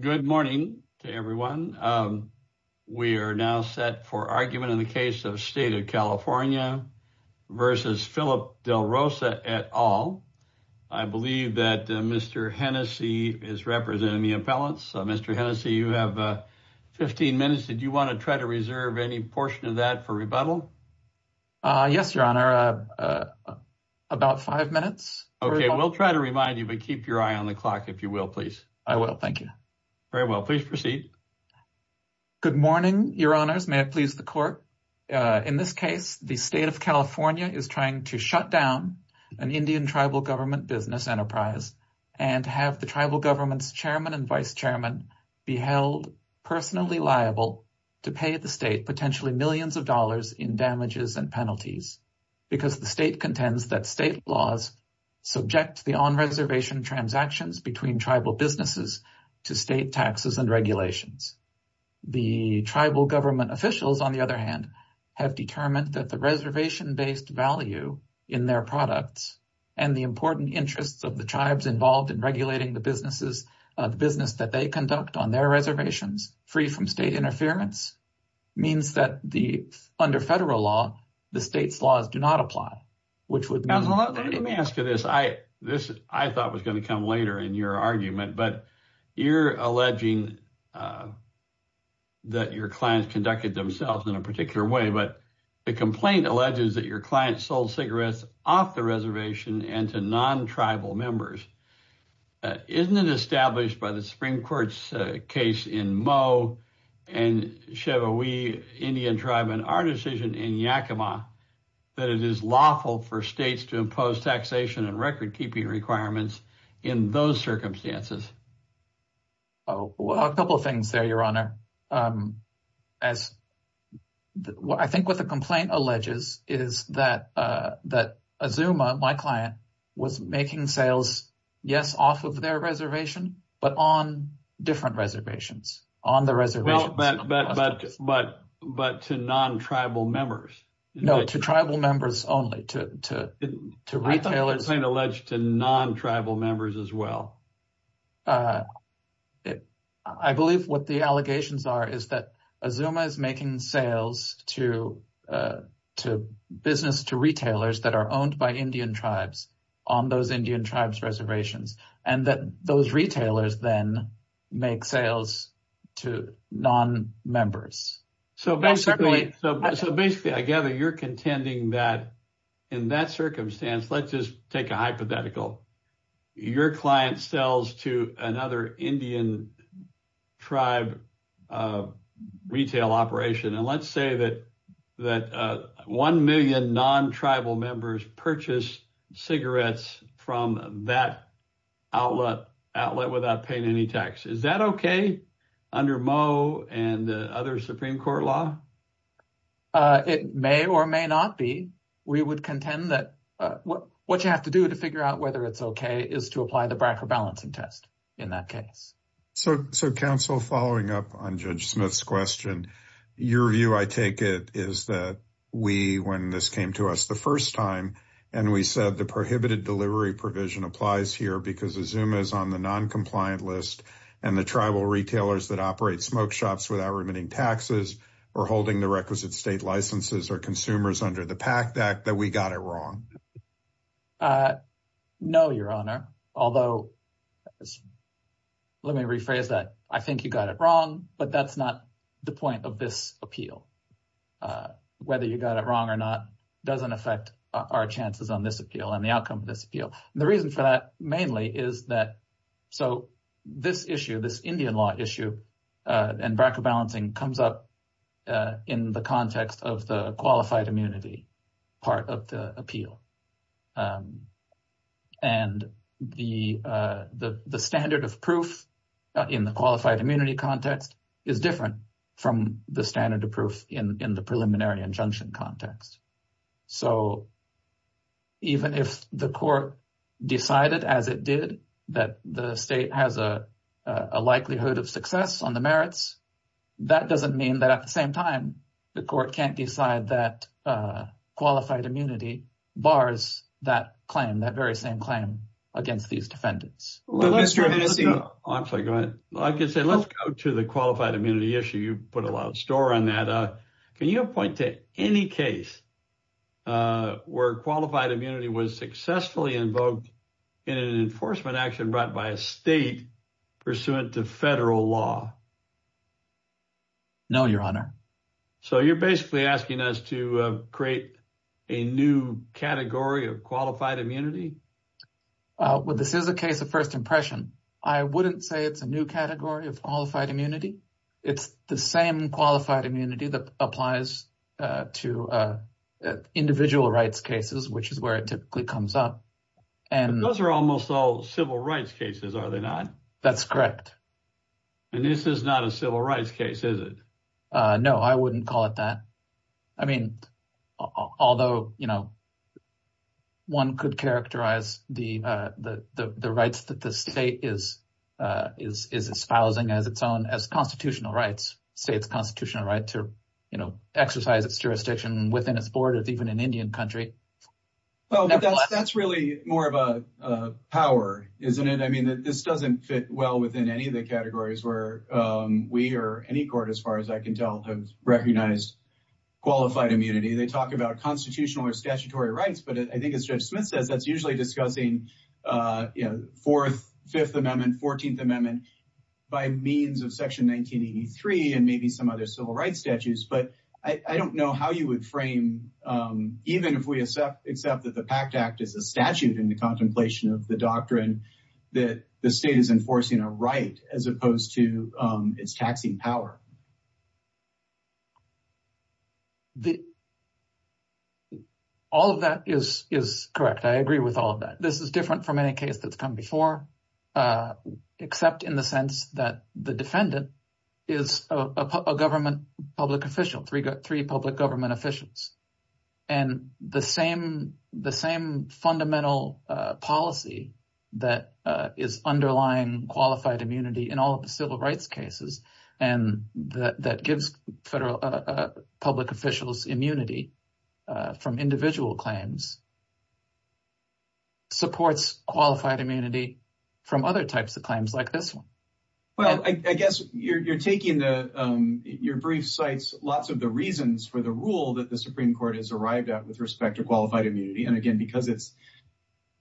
Good morning to everyone. We are now set for argument in the case of State of California v. Philip Del Rosa et al. I believe that Mr. Hennessey is representing the appellants. Mr. Hennessey, you have 15 minutes. Did you want to try to reserve any portion of that for rebuttal? Yes, Your Honor, about five minutes. Okay, we'll try to remind you, but keep your eye on the clock if you will, please. I will, thank you. Very well, please proceed. Good morning, Your Honors. May it please the Court. In this case, the State of California is trying to shut down an Indian tribal government business enterprise and have the tribal government's chairman and vice chairman be held personally liable to pay the state potentially millions of dollars in damages and penalties because the state contends that state laws subject the on-reservation transactions between tribal businesses to state taxes and regulations. The tribal government officials, on the other hand, have determined that the reservation-based value in their products and the important interests of the tribes involved in regulating the businesses of business that they conduct on their reservations free from state interference means that the under federal law, the state's laws do not apply. Let me ask you this. I thought was going to come later in your argument, but you're alleging that your clients conducted themselves in a particular way, but the complaint alleges that your clients sold cigarettes off the reservation and to non-tribal members. Isn't it established by the Supreme Court's case in Moe and Chevaoui Indian tribe in our decision in Yakima that it is lawful for states to impose taxation and record-keeping requirements in those circumstances? A couple of things there, Your Honor. I think what the complaint alleges is that Azuma, my client, was making sales, yes, off of their reservation, but on different reservations. But to non-tribal members? No, to tribal members only, to retailers. I thought the complaint alleged to non-tribal members as well. I believe what the allegations are is that Azuma is making sales to business, to retailers that are owned by Indian tribes on those Indian tribes reservations, and that those retailers then make sales to non-members. So basically, I gather you're contending that, in that circumstance, let's just take a hypothetical. Your client sells to another Indian tribe retail operation, and let's say that one million non-tribal members purchase cigarettes from that outlet without paying any tax. Is that okay under Moe and other Supreme Court law? It may or may not be. We would contend that what you have to do to figure out whether it's okay is to apply the BRAC or balancing test in that case. So, Counsel, following up on Judge Smith's question, your view, I take it, is that we, when this came to us the first time, and we said the prohibited delivery provision applies here because Azuma is on the non-compliant list, and the tribal retailers that operate smoke shops without remitting taxes or holding the requisite state licenses are consumers under the PAC Act, that we got it wrong? No, Your Honor. Although, let me rephrase that. I think you got it wrong, but that's not the point of this appeal. Whether you got it wrong or not doesn't affect our chances on this appeal and the outcome of this appeal. The reason for that, mainly, is that so this issue, this Indian law issue, and BRAC or non-compliant, and the standard of proof in the qualified immunity context is different from the standard of proof in the preliminary injunction context. So, even if the court decided, as it did, that the state has a likelihood of success on the merits, that doesn't mean that, at the same time, the court can't decide that qualified immunity bars that claim, that very same claim, against these defendants. Mr. Hennessey. I can say, let's go to the qualified immunity issue. You put a lot of store on that. Can you point to any case where qualified immunity was successfully invoked in an enforcement action brought by a state pursuant to federal law? No, Your Honor. So, you're basically asking us to create a new category of qualified immunity? Well, this is a case of first impression. I wouldn't say it's a new category of qualified immunity. It's the same qualified immunity that applies to individual rights cases, which is where it typically comes up. Those are almost all civil rights cases, are they not? That's correct. And this is not a civil rights case, is it? No, I wouldn't call it that. I mean, although, you know, one could characterize the rights that the state is espousing as its own, as constitutional rights, say it's constitutional right to, you know, exercise its jurisdiction within its borders, even in Indian country. That's really more of a power, isn't it? I mean, this doesn't fit well within any of the categories where we or any court, as far as I can tell, have recognized qualified immunity. They talk about constitutional or statutory rights, but I think as Judge Smith says, that's usually discussing, you know, Fourth, Fifth Amendment, Fourteenth Amendment by means of Section 1983 and maybe some other civil rights statutes. But I don't know how you would frame, even if we accept that the PACT Act is a statute in the contemplation of the doctrine that the state is enforcing a right as opposed to its taxing power. All of that is correct. I agree with all of that. This is different from any case that's come before, except in the sense that the defendant is a government public official, three public government officials. And the same fundamental policy that is underlying qualified immunity in all of civil rights cases and that gives public officials immunity from individual claims supports qualified immunity from other types of claims like this one. Well, I guess you're taking your brief cites lots of the reasons for the rule that the Supreme Court has arrived at with respect to qualified immunity. And again, because it's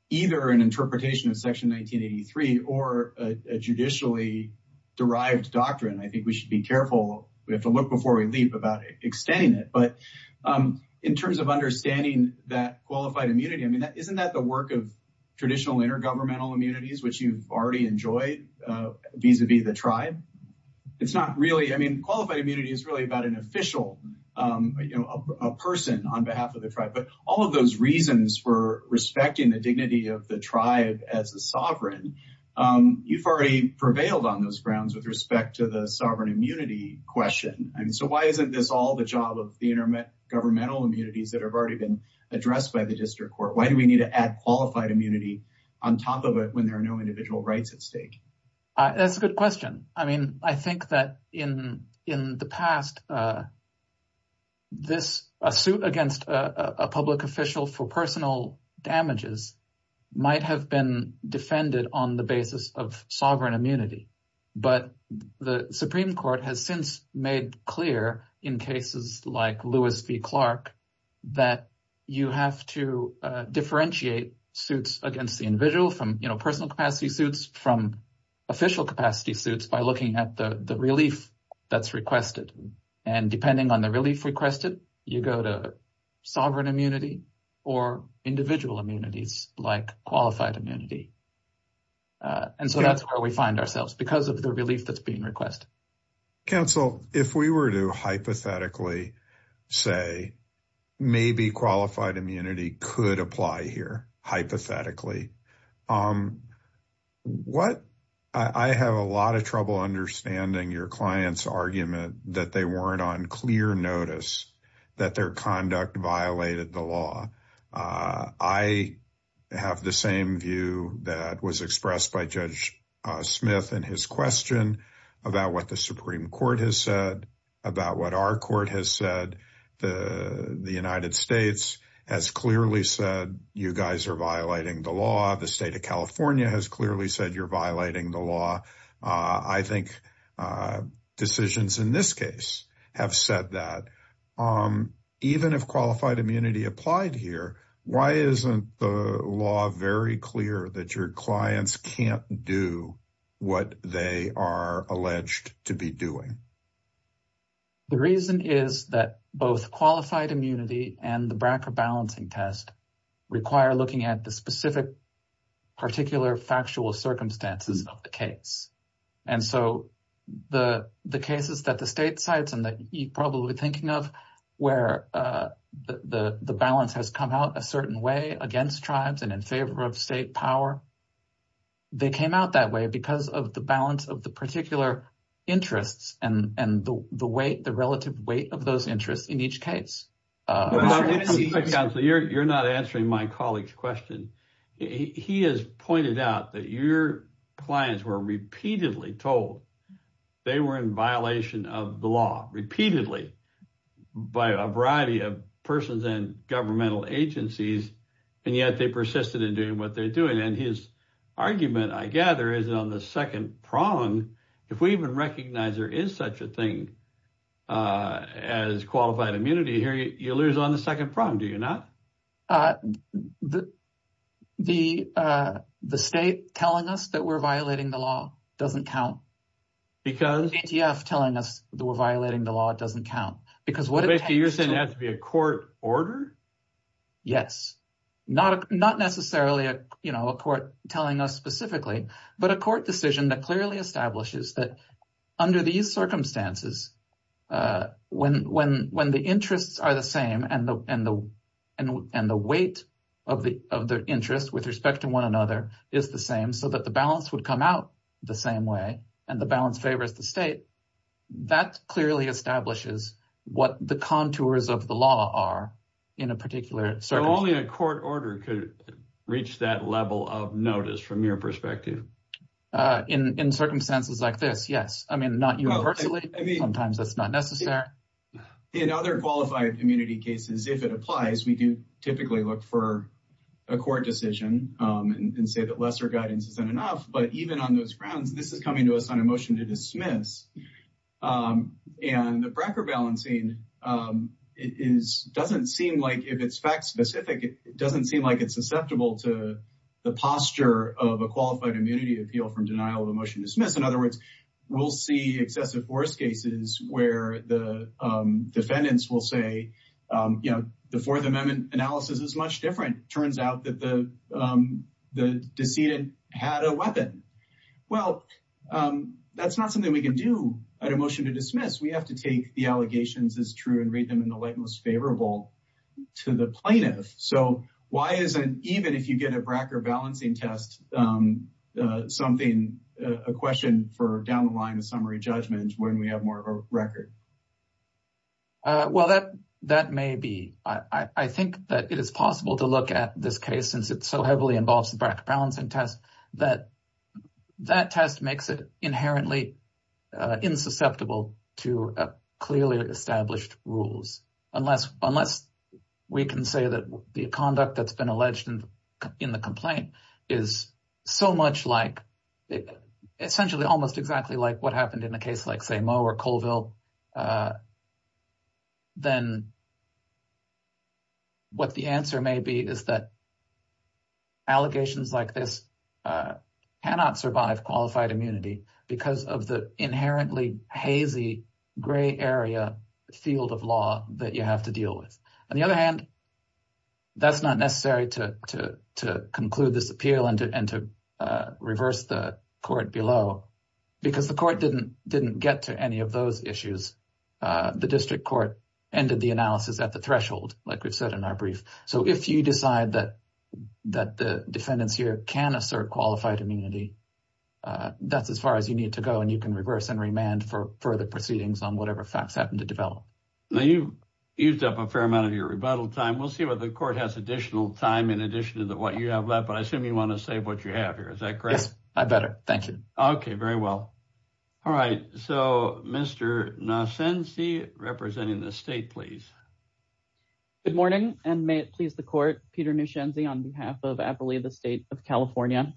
either an interpretation of Section 1983 or a judicially derived doctrine, I think we should be careful. We have to look before we leap about extending it. But in terms of understanding that qualified immunity, I mean, isn't that the work of traditional intergovernmental immunities, which you've already enjoyed vis-a-vis the tribe? It's not really, I mean, qualified immunity is really about an official, you know, a person on behalf of the tribe. All of those reasons for respecting the dignity of the tribe as a sovereign, you've already prevailed on those grounds with respect to the sovereign immunity question. I mean, so why isn't this all the job of the intergovernmental immunities that have already been addressed by the district court? Why do we need to add qualified immunity on top of it when there are no individual rights at stake? That's a good question. I mean, I think that in the past, a suit against a public official for personal damages might have been defended on the basis of sovereign immunity. But the Supreme Court has since made clear in cases like Lewis v. Clark that you have to differentiate suits against the individual from, you know, personal capacity suits by looking at the relief that's requested. And depending on the relief requested, you go to sovereign immunity or individual immunities like qualified immunity. And so that's where we find ourselves because of the relief that's being requested. Counsel, if we were to hypothetically say maybe qualified immunity could apply here, hypothetically, I have a lot of trouble understanding your client's argument that they weren't on clear notice that their conduct violated the law. I have the same view that was expressed by Judge Smith in his question about what the Supreme Court has said, about what our court has said. The United States has clearly said you guys are violating the law. The state of California has clearly said you're violating the law. I think decisions in this case have said that. Even if qualified immunity applied here, why isn't the law very clear that your clients can't do what they are alleged to be doing? The reason is that both qualified immunity and the BRCA balancing test require looking at the specific particular factual circumstances of the case. And so the cases that the state cites and that you're probably thinking of where the balance has come out a certain way against tribes and in favor of state power, they came out that way because of the balance of the particular interests and the relative weight of those interests in each case. You're not answering my colleague's question. He has pointed out that your clients were repeatedly told they were in violation of the law, repeatedly, by a variety of persons and governmental agencies, and yet they persisted in doing what they're doing. His argument, I gather, is on the second prong. If we even recognize there is such a thing as qualified immunity here, you lose on the second prong, do you not? The state telling us that we're violating the law doesn't count. The ATF telling us that we're violating the law doesn't count. You're saying it has to be a court order? Yes. Not necessarily a court telling us specifically, but a court decision that clearly establishes that under these circumstances, when the interests are the same and the weight of the interest with respect to one another is the same so that the balance would come out the same way and the balance favors the state, that clearly establishes what the contours of the law are in a particular circumstance. Only a court order could reach that level of notice from your perspective. In circumstances like this, yes. I mean, not universally. Sometimes that's not necessary. In other qualified immunity cases, if it applies, we do typically look for a court decision and say that lesser guidance isn't enough, but even on those grounds, this is coming to us on a motion to dismiss. And the bracker balancing doesn't seem like, if it's fact specific, it doesn't seem like it's susceptible to the posture of a qualified immunity appeal from denial of a motion to dismiss. In other words, we'll see excessive force cases where the defendants will say, you know, the Fourth Amendment analysis is much different. It turns out that the decedent had a weapon. Well, that's not something we can do at a motion to dismiss. We have to take the allegations as true and read them in the light most favorable to the plaintiff. So why isn't, even if you get a bracker balancing test, something, a question for down the line of summary judgment when we have more of a record? Well, that may be. I think that it is possible to look at this case, since it so heavily involves the bracker that test makes it inherently insusceptible to clearly established rules, unless we can say that the conduct that's been alleged in the complaint is so much like, essentially, almost exactly like what happened in a case like, say, Moe or Colville. Well, then what the answer may be is that allegations like this cannot survive qualified immunity because of the inherently hazy gray area field of law that you have to deal with. On the other hand, that's not necessary to conclude this appeal and to reverse the court below because the court didn't get to any of those issues. The district court ended the analysis at the threshold, like we've said in our brief. So if you decide that the defendants here can assert qualified immunity, that's as far as you need to go, and you can reverse and remand for further proceedings on whatever facts happen to develop. Now, you've used up a fair amount of your rebuttal time. We'll see whether the court has additional time in addition to what you have left, but I assume you want to save what you have here. Is that correct? Yes, I better. Thank you. Okay, very well. All right. So, Mr. Nosenzi, representing the state, please. Good morning, and may it please the court, Peter Nosenzi on behalf of Appalooza State of California.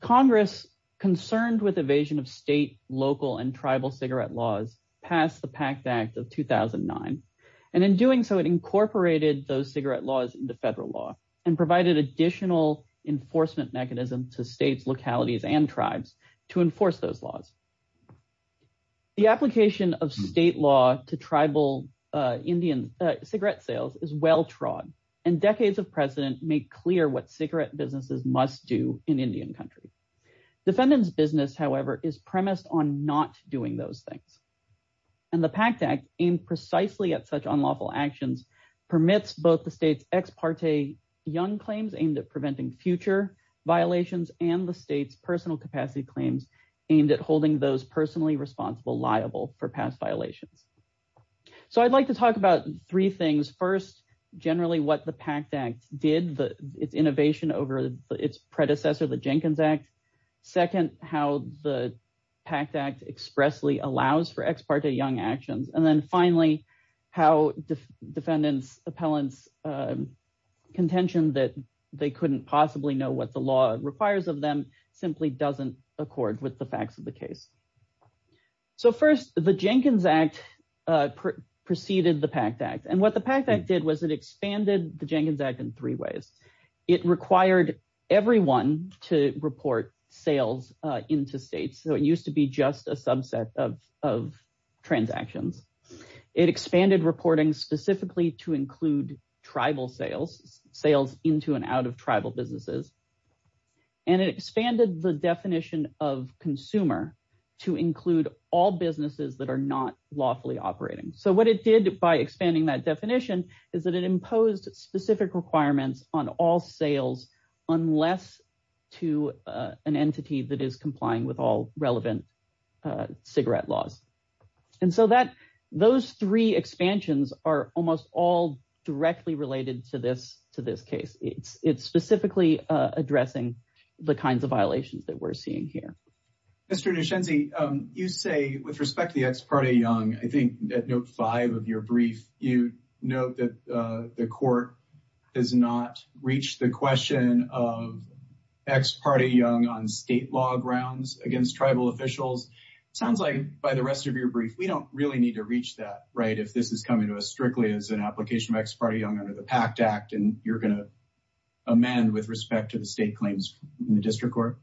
Congress, concerned with evasion of state, local, and tribal cigarette laws, passed the PACT Act of 2009, and in doing so, it incorporated those cigarette laws into federal law and provided additional enforcement mechanisms to states, localities, and tribes to enforce those laws. The application of state law to tribal cigarette sales is well-trod, and decades of precedent make clear what cigarette businesses must do in Indian country. Defendants' business, however, is premised on not doing those things, and the PACT Act, aimed precisely at such unlawful actions, permits both the state's ex parte young claims aimed at preventing future violations and the state's personal capacity claims aimed at holding those personally responsible liable for past violations. So, I'd like to talk about three things. First, generally what the PACT Act did, its innovation over its predecessor, the Jenkins Act. Second, how the PACT Act expressly allows for ex parte young actions. And then finally, how defendants' appellants' contention that they couldn't possibly know what the law requires of them simply doesn't accord with the facts of the case. So first, the Jenkins Act preceded the PACT Act, and what the PACT Act did was it expanded the Jenkins Act in three ways. It required everyone to report sales into states, so it used to be just a subset of transactions. It expanded reporting specifically to include tribal sales, sales into and out of tribal businesses, and it expanded the definition of consumer to include all businesses that are not lawfully operating. So what it did by expanding that definition is that it imposed specific requirements on all sales unless to an entity that is complying with all relevant cigarette laws. And so those three expansions are almost all directly related to this case. It's specifically addressing the kinds of violations that we're seeing here. Mr. Nishenzi, you say with respect to the ex parte young, I think at note five of your brief, you note that the court has not reached the question of ex parte young on state law grounds against tribal officials. Sounds like by the rest of your brief, we don't really need to reach that, right, if this is coming to us strictly as an application of ex parte young under the PACT Act, and you're going to amend with respect to the state claims in the district court?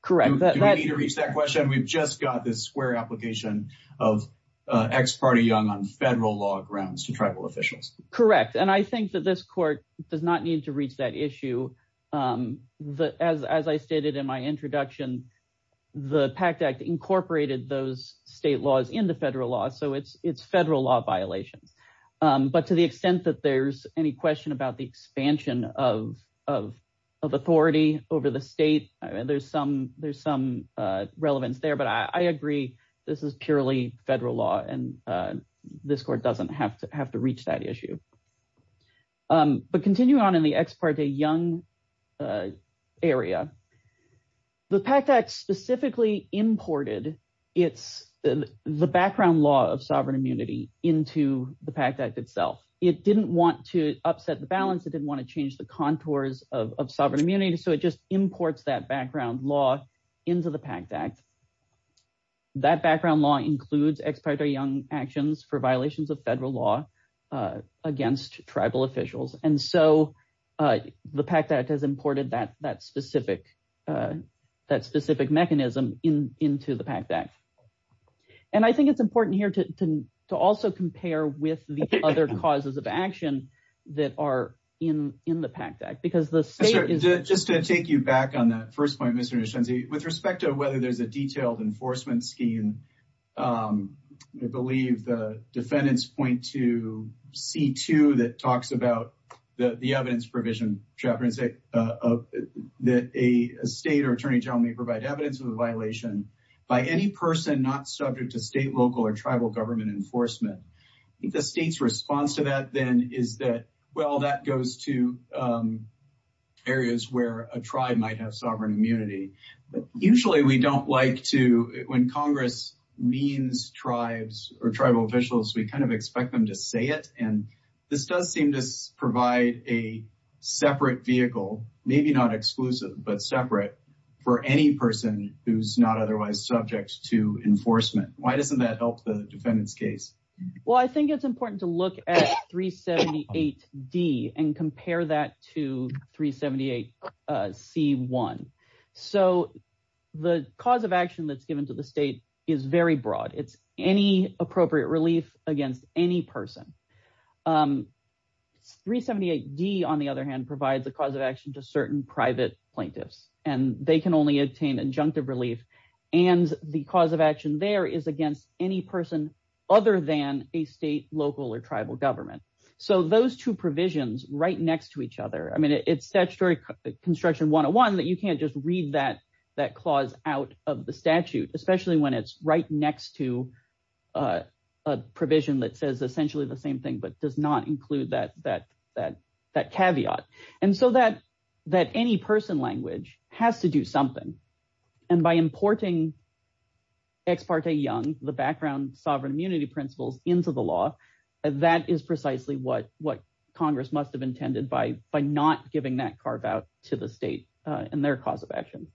Correct. Do we need to reach that question? We've just got this square application of ex parte young on federal law grounds to tribal officials. Correct. And I think that this court does not need to reach that issue. As I stated in my introduction, the PACT Act incorporated those state laws into federal law, so it's federal law violations. But to the extent that there's any question about the expansion of authority over the state, there's some relevance there. But I agree this is purely federal law, and this court doesn't have to reach that issue. But continuing on in the ex parte young area, the PACT Act specifically imported the background law of sovereign immunity into the PACT Act itself. It didn't want to upset the balance, it didn't want to change the contours of sovereign immunity, so it just imports that background law into the PACT Act. That background law includes ex parte young actions for violations of federal law against tribal officials. And so the PACT Act has imported that specific mechanism into the PACT Act. And I think it's important here to also compare with the other causes of action that are in the PACT Act. Just to take you back on that first point, Mr. Nishinzi, with respect to whether there's a detailed enforcement scheme, I believe the defendants point to C2 that talks about the evidence provision that a state or attorney general may provide evidence of a violation by any person not subject to state, local, or tribal government enforcement. I think the state's response to that then is that, well, that goes to areas where a tribe might have sovereign immunity. But usually we don't like to, when Congress means tribes or tribal officials, we kind of expect them to say it. And this does seem to provide a separate vehicle, maybe not exclusive, but separate for any person who's not otherwise subject to enforcement. Why doesn't that help the defendant's case? Well, I think it's important to look at 378D and compare that to 378C1. So the cause of action that's given to the state is very broad. It's any appropriate relief against any person. 378D, on the other hand, provides a cause of action to certain private plaintiffs, and they can only obtain injunctive relief. And the cause of action there is against any person other than a state, local, or tribal government. So those two provisions right next to each other, I mean, it's statutory construction 101 that you can't just read that clause out of the statute, especially when it's right next to a provision that says essentially the same thing but does not include that caveat. And so that any person language has to do something. And by importing Ex parte Young, the background sovereign immunity principles, into the law, that is precisely what Congress must have intended by not giving that carve out to the state and their cause of action.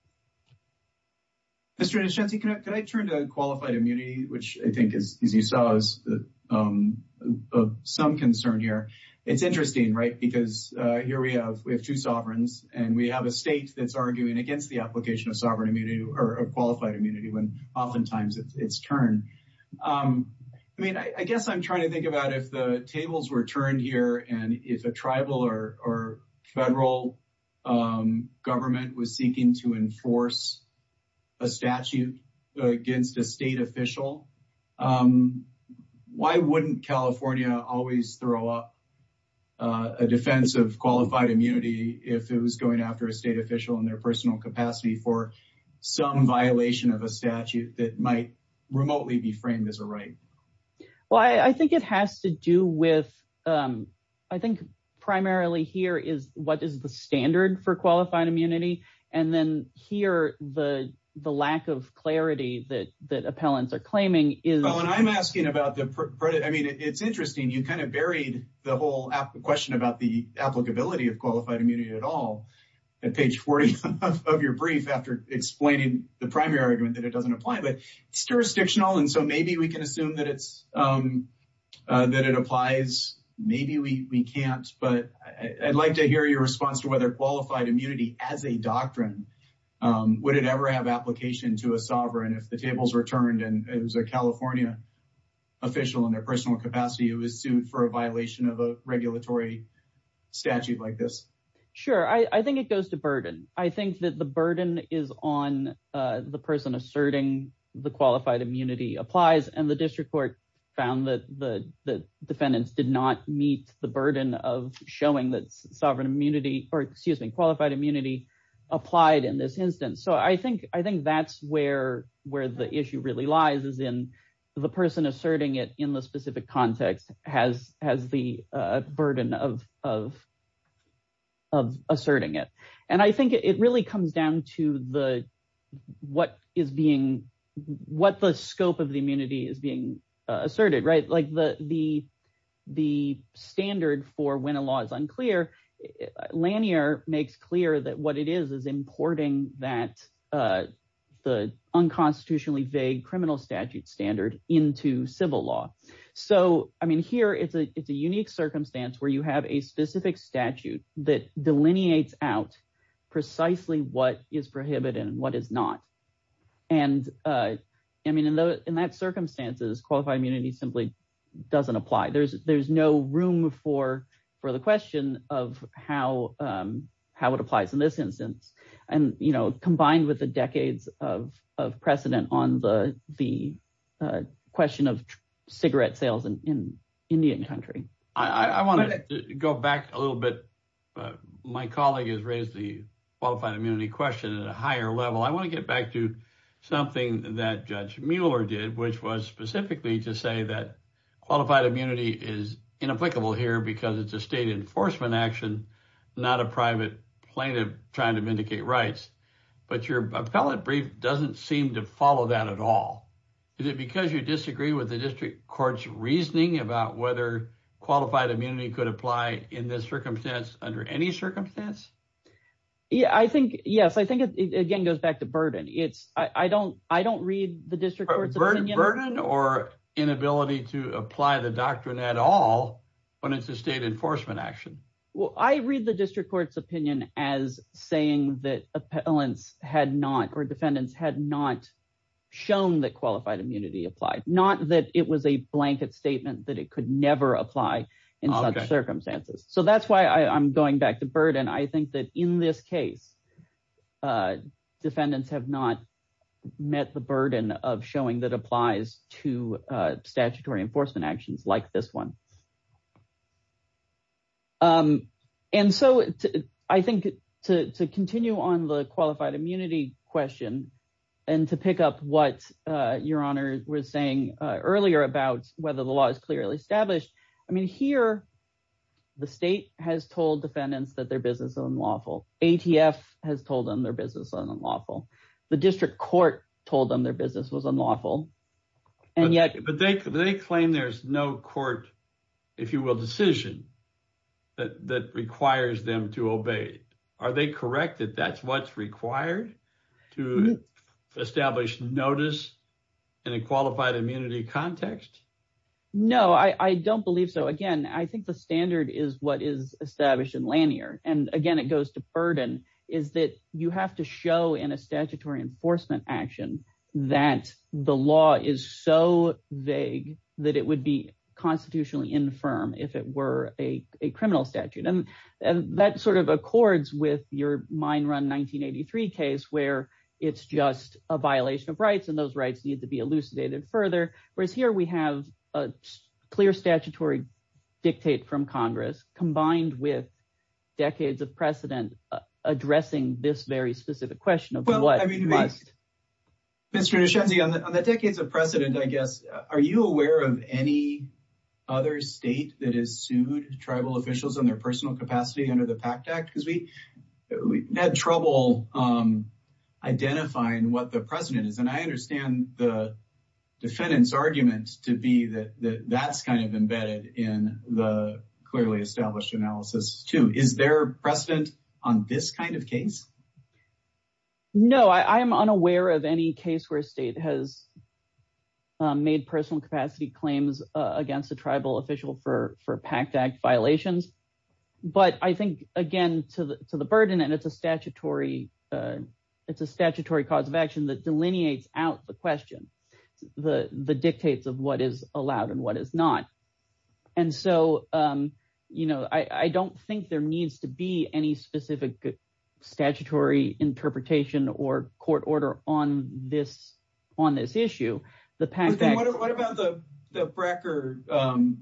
Mr. Nischenzi, could I turn to qualified immunity, which I think, as you saw, is of some concern here. It's interesting, right, because here we have two sovereigns, and we have a state that's arguing against the application of sovereign immunity or qualified immunity when oftentimes it's turned. I mean, I guess I'm trying to think about if the tables were turned here, and if a tribal or federal government was seeking to enforce a statute against a state official, why wouldn't California always throw up a defense of qualified immunity if it was going after a state official in their personal capacity for some violation of a statute that might remotely be framed as a right? Well, I think it has to do with, I think primarily here is what is the standard for qualified immunity. And then here, the lack of clarity that that appellants are claiming is. Well, and I'm asking about the credit. I mean, it's interesting, you kind of buried the whole question about the applicability of qualified immunity at all at page 40 of your brief after explaining the primary argument that it doesn't apply, but it's jurisdictional. And so maybe we can assume that it applies. Maybe we can't, but I'd like to hear your response to whether qualified immunity as a doctrine, would it ever have application to a sovereign if the tables were turned and it was a California official in their personal capacity who was sued for a violation of a regulatory statute like this? Sure. I think it goes to burden. I think that the burden is on the person asserting the qualified immunity applies and the district court found that the defendants did not meet the burden of showing that sovereign immunity or excuse me, qualified immunity applied in this instance. So I think that's where the issue really lies is in the person asserting it in the specific context has the burden of asserting it. And I think it really comes down to the, what is being, what the scope of the immunity is being asserted, right? Like the standard for when a law is unclear, Lanier makes clear that what it is, is importing that the unconstitutionally vague criminal statute standard into civil law. So, I mean, here it's a, it's a unique circumstance where you have a specific statute that delineates out precisely what is prohibited and what is not. And I mean, in those, in that circumstances, qualified immunity simply doesn't apply. There's, there's no room for, for the question of how, how it applies in this instance. And, you know, combined with the decades of, of precedent on the, the question of cigarette sales in Indian country. I want to go back a little bit. My colleague has raised the qualified immunity question at a higher level. I want to get back to something that judge Mueller did, which was specifically to say that qualified immunity is inapplicable here because it's a state enforcement action, not a private plaintiff trying to vindicate rights. But your appellate brief doesn't seem to follow that at all. Is it because you disagree with the district court's reasoning about whether qualified immunity could apply in this circumstance under any circumstance? Yeah, I think, yes, I think it again goes back to burden. It's, I don't, I don't read the district court's opinion. Burden or inability to apply the doctrine at all when it's a state enforcement action? Well, I read the district court's opinion as saying that appellants had not, or defendants had not shown that qualified immunity applied, not that it was a blanket statement that it could never apply in such circumstances. So that's why I'm going back to burden. I think that in this case, defendants have not met the burden of showing that applies to statutory enforcement actions like this one. And so I think to continue on the qualified immunity question and to pick up what your honor was saying earlier about whether the law is clearly established. I mean, here, the state has told defendants that their business is unlawful. ATF has told them their business is unlawful. The district court told them their business was unlawful. And yet, but they claim there's no court, if you will, decision that requires them to obey. Are they correct that that's what's required to establish notice in a qualified immunity context? No, I don't believe so. Again, I think the standard is what is established in Lanier. And again, it goes to burden is that you have to show in a statutory enforcement action that the law is so vague that it would be constitutionally infirm if it were a criminal statute. And that sort of accords with your mine run 1983 case where it's just a violation of rights and those rights need to be elucidated further, whereas here we have a clear statutory dictate from Congress combined with decades of precedent addressing this very specific question of what must. Mr. Nishenzie, on the decades of precedent, I guess, are you aware of any other state that has sued tribal officials in their personal capacity under the PACT Act? Because we had trouble identifying what the precedent is. And I understand the defendant's argument to be that that's kind of embedded in the clearly established analysis too. Is there precedent on this kind of case? No, I am unaware of any case where state has made personal capacity claims against a tribal official for PACT Act violations. But I think, again, to the burden, and it's a statutory cause of action that delineates out the question, the dictates of what is allowed and what is not. And so, you know, I don't think there needs to be any specific statutory interpretation or court order on this issue. What about the Brecker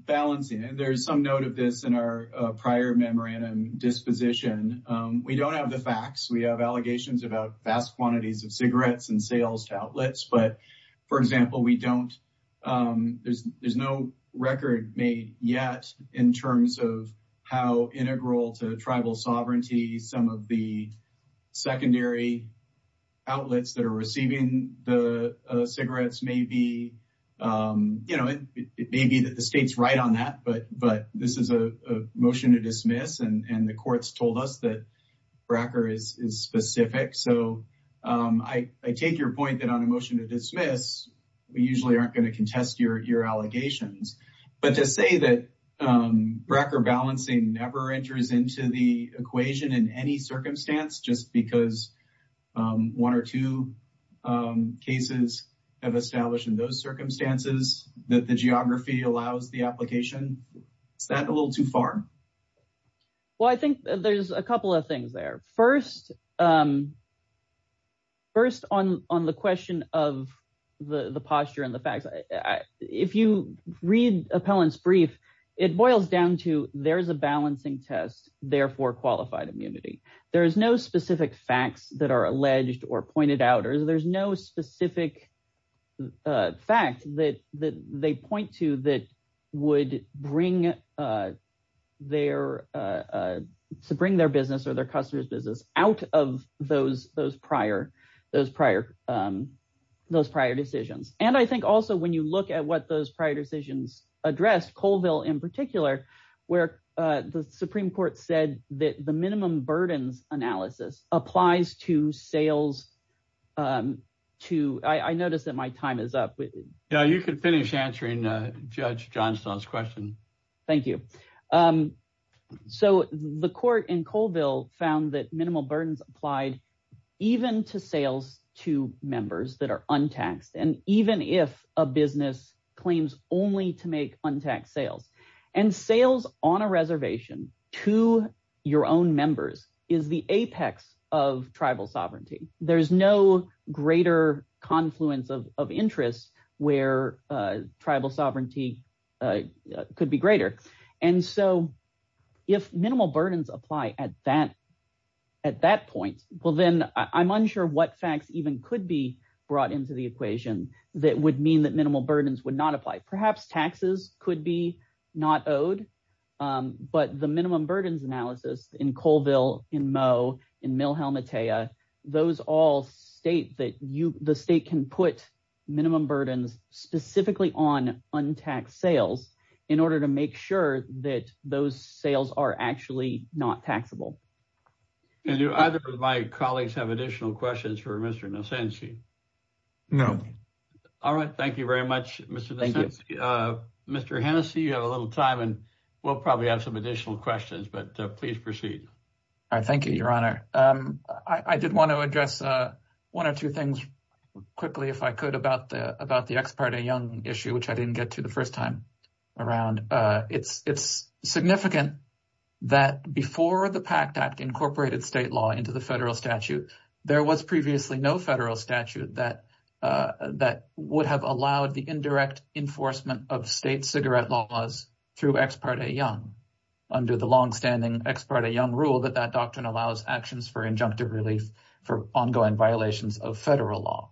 balancing? There's some note of this in our prior memorandum disposition. We don't have the facts. We have allegations about vast quantities of cigarettes and sales to outlets. For example, there's no record made yet in terms of how integral to tribal sovereignty some of the secondary outlets that are receiving the cigarettes may be. You know, it may be that the state's right on that, but this is a motion to dismiss and the court's told us that Brecker is specific. So I take your point that on a motion to dismiss, we usually aren't going to contest your allegations. But to say that Brecker balancing never enters into the equation in any circumstance, just because one or two cases have established in those circumstances that the geography allows the application, is that a little too far? Well, I think there's a couple of things there. First, on the question of the posture and the facts, if you read Appellant's brief, it boils down to there's a balancing test, therefore qualified immunity. There is no specific facts that are alleged or pointed out, or there's no specific fact that they point to that would bring their business or their customer's business out of those prior decisions. And I think also when you look at what those prior decisions addressed, Colville in particular, where the Supreme Court said that the minimum burdens analysis applies to sales to, I notice that my time is up. Yeah, you could finish answering Judge Johnstone's question. Thank you. So the court in Colville found that minimal burdens applied even to sales to members that are untaxed, and even if a business claims only to make untaxed sales. And sales on a reservation to your own members is the apex of tribal sovereignty. There's no greater confluence of interest where tribal sovereignty could be greater. And so if minimal burdens apply at that point, well, then I'm unsure what facts even could be brought into the equation that would mean that minimal burdens would not apply. Perhaps taxes could be not owed, but the minimum burdens analysis in Colville, in Moe, in Mill all state that the state can put minimum burdens specifically on untaxed sales in order to make sure that those sales are actually not taxable. And do either of my colleagues have additional questions for Mr. Nosenzi? No. All right. Thank you very much, Mr. Nosenzi. Mr. Hennessey, you have a little time and we'll probably have some additional questions, but please proceed. All right. Thank you, Your Honor. I did want to address one or two things quickly, if I could, about the ex parte young issue, which I didn't get to the first time around. It's significant that before the PACT Act incorporated state law into the federal statute, there was previously no federal statute that would have allowed the indirect enforcement of state cigarette laws through ex parte young under the longstanding ex parte young rule that that allows actions for injunctive relief for ongoing violations of federal law.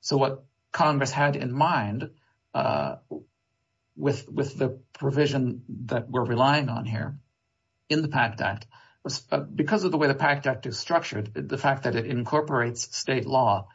So what Congress had in mind with the provision that we're relying on here in the PACT Act, because of the way the PACT Act is structured, the fact that it incorporates state law,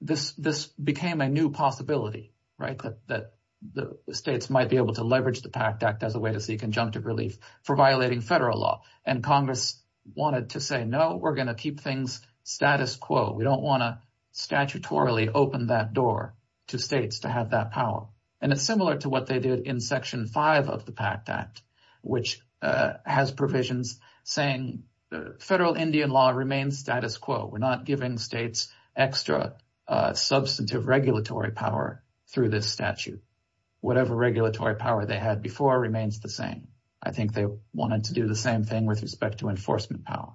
this became a new possibility, right, that the states might be able to leverage the PACT Act as a way to seek injunctive relief for violating federal law. And Congress wanted to say, no, we're going to keep things status quo. We don't want to statutorily open that door to states to have that power. And it's similar to what they did in Section 5 of the PACT Act, which has provisions saying federal Indian law remains status quo. We're not giving states extra substantive regulatory power through this statute. Whatever regulatory power they had before remains the same. I think they wanted to do the same thing with respect to enforcement power.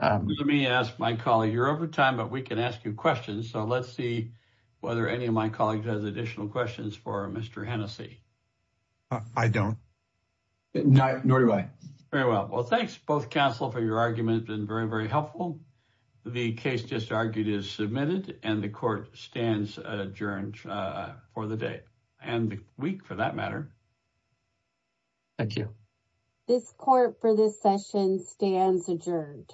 Let me ask my colleague, you're over time, but we can ask you questions. So let's see whether any of my colleagues has additional questions for Mr. Hennessey. I don't. Nor do I. Very well. Well, thanks both counsel for your argument and very, very helpful. The case just argued is submitted and the court stands adjourned for the day and the week for that matter. Thank you. This court for this session stands adjourned.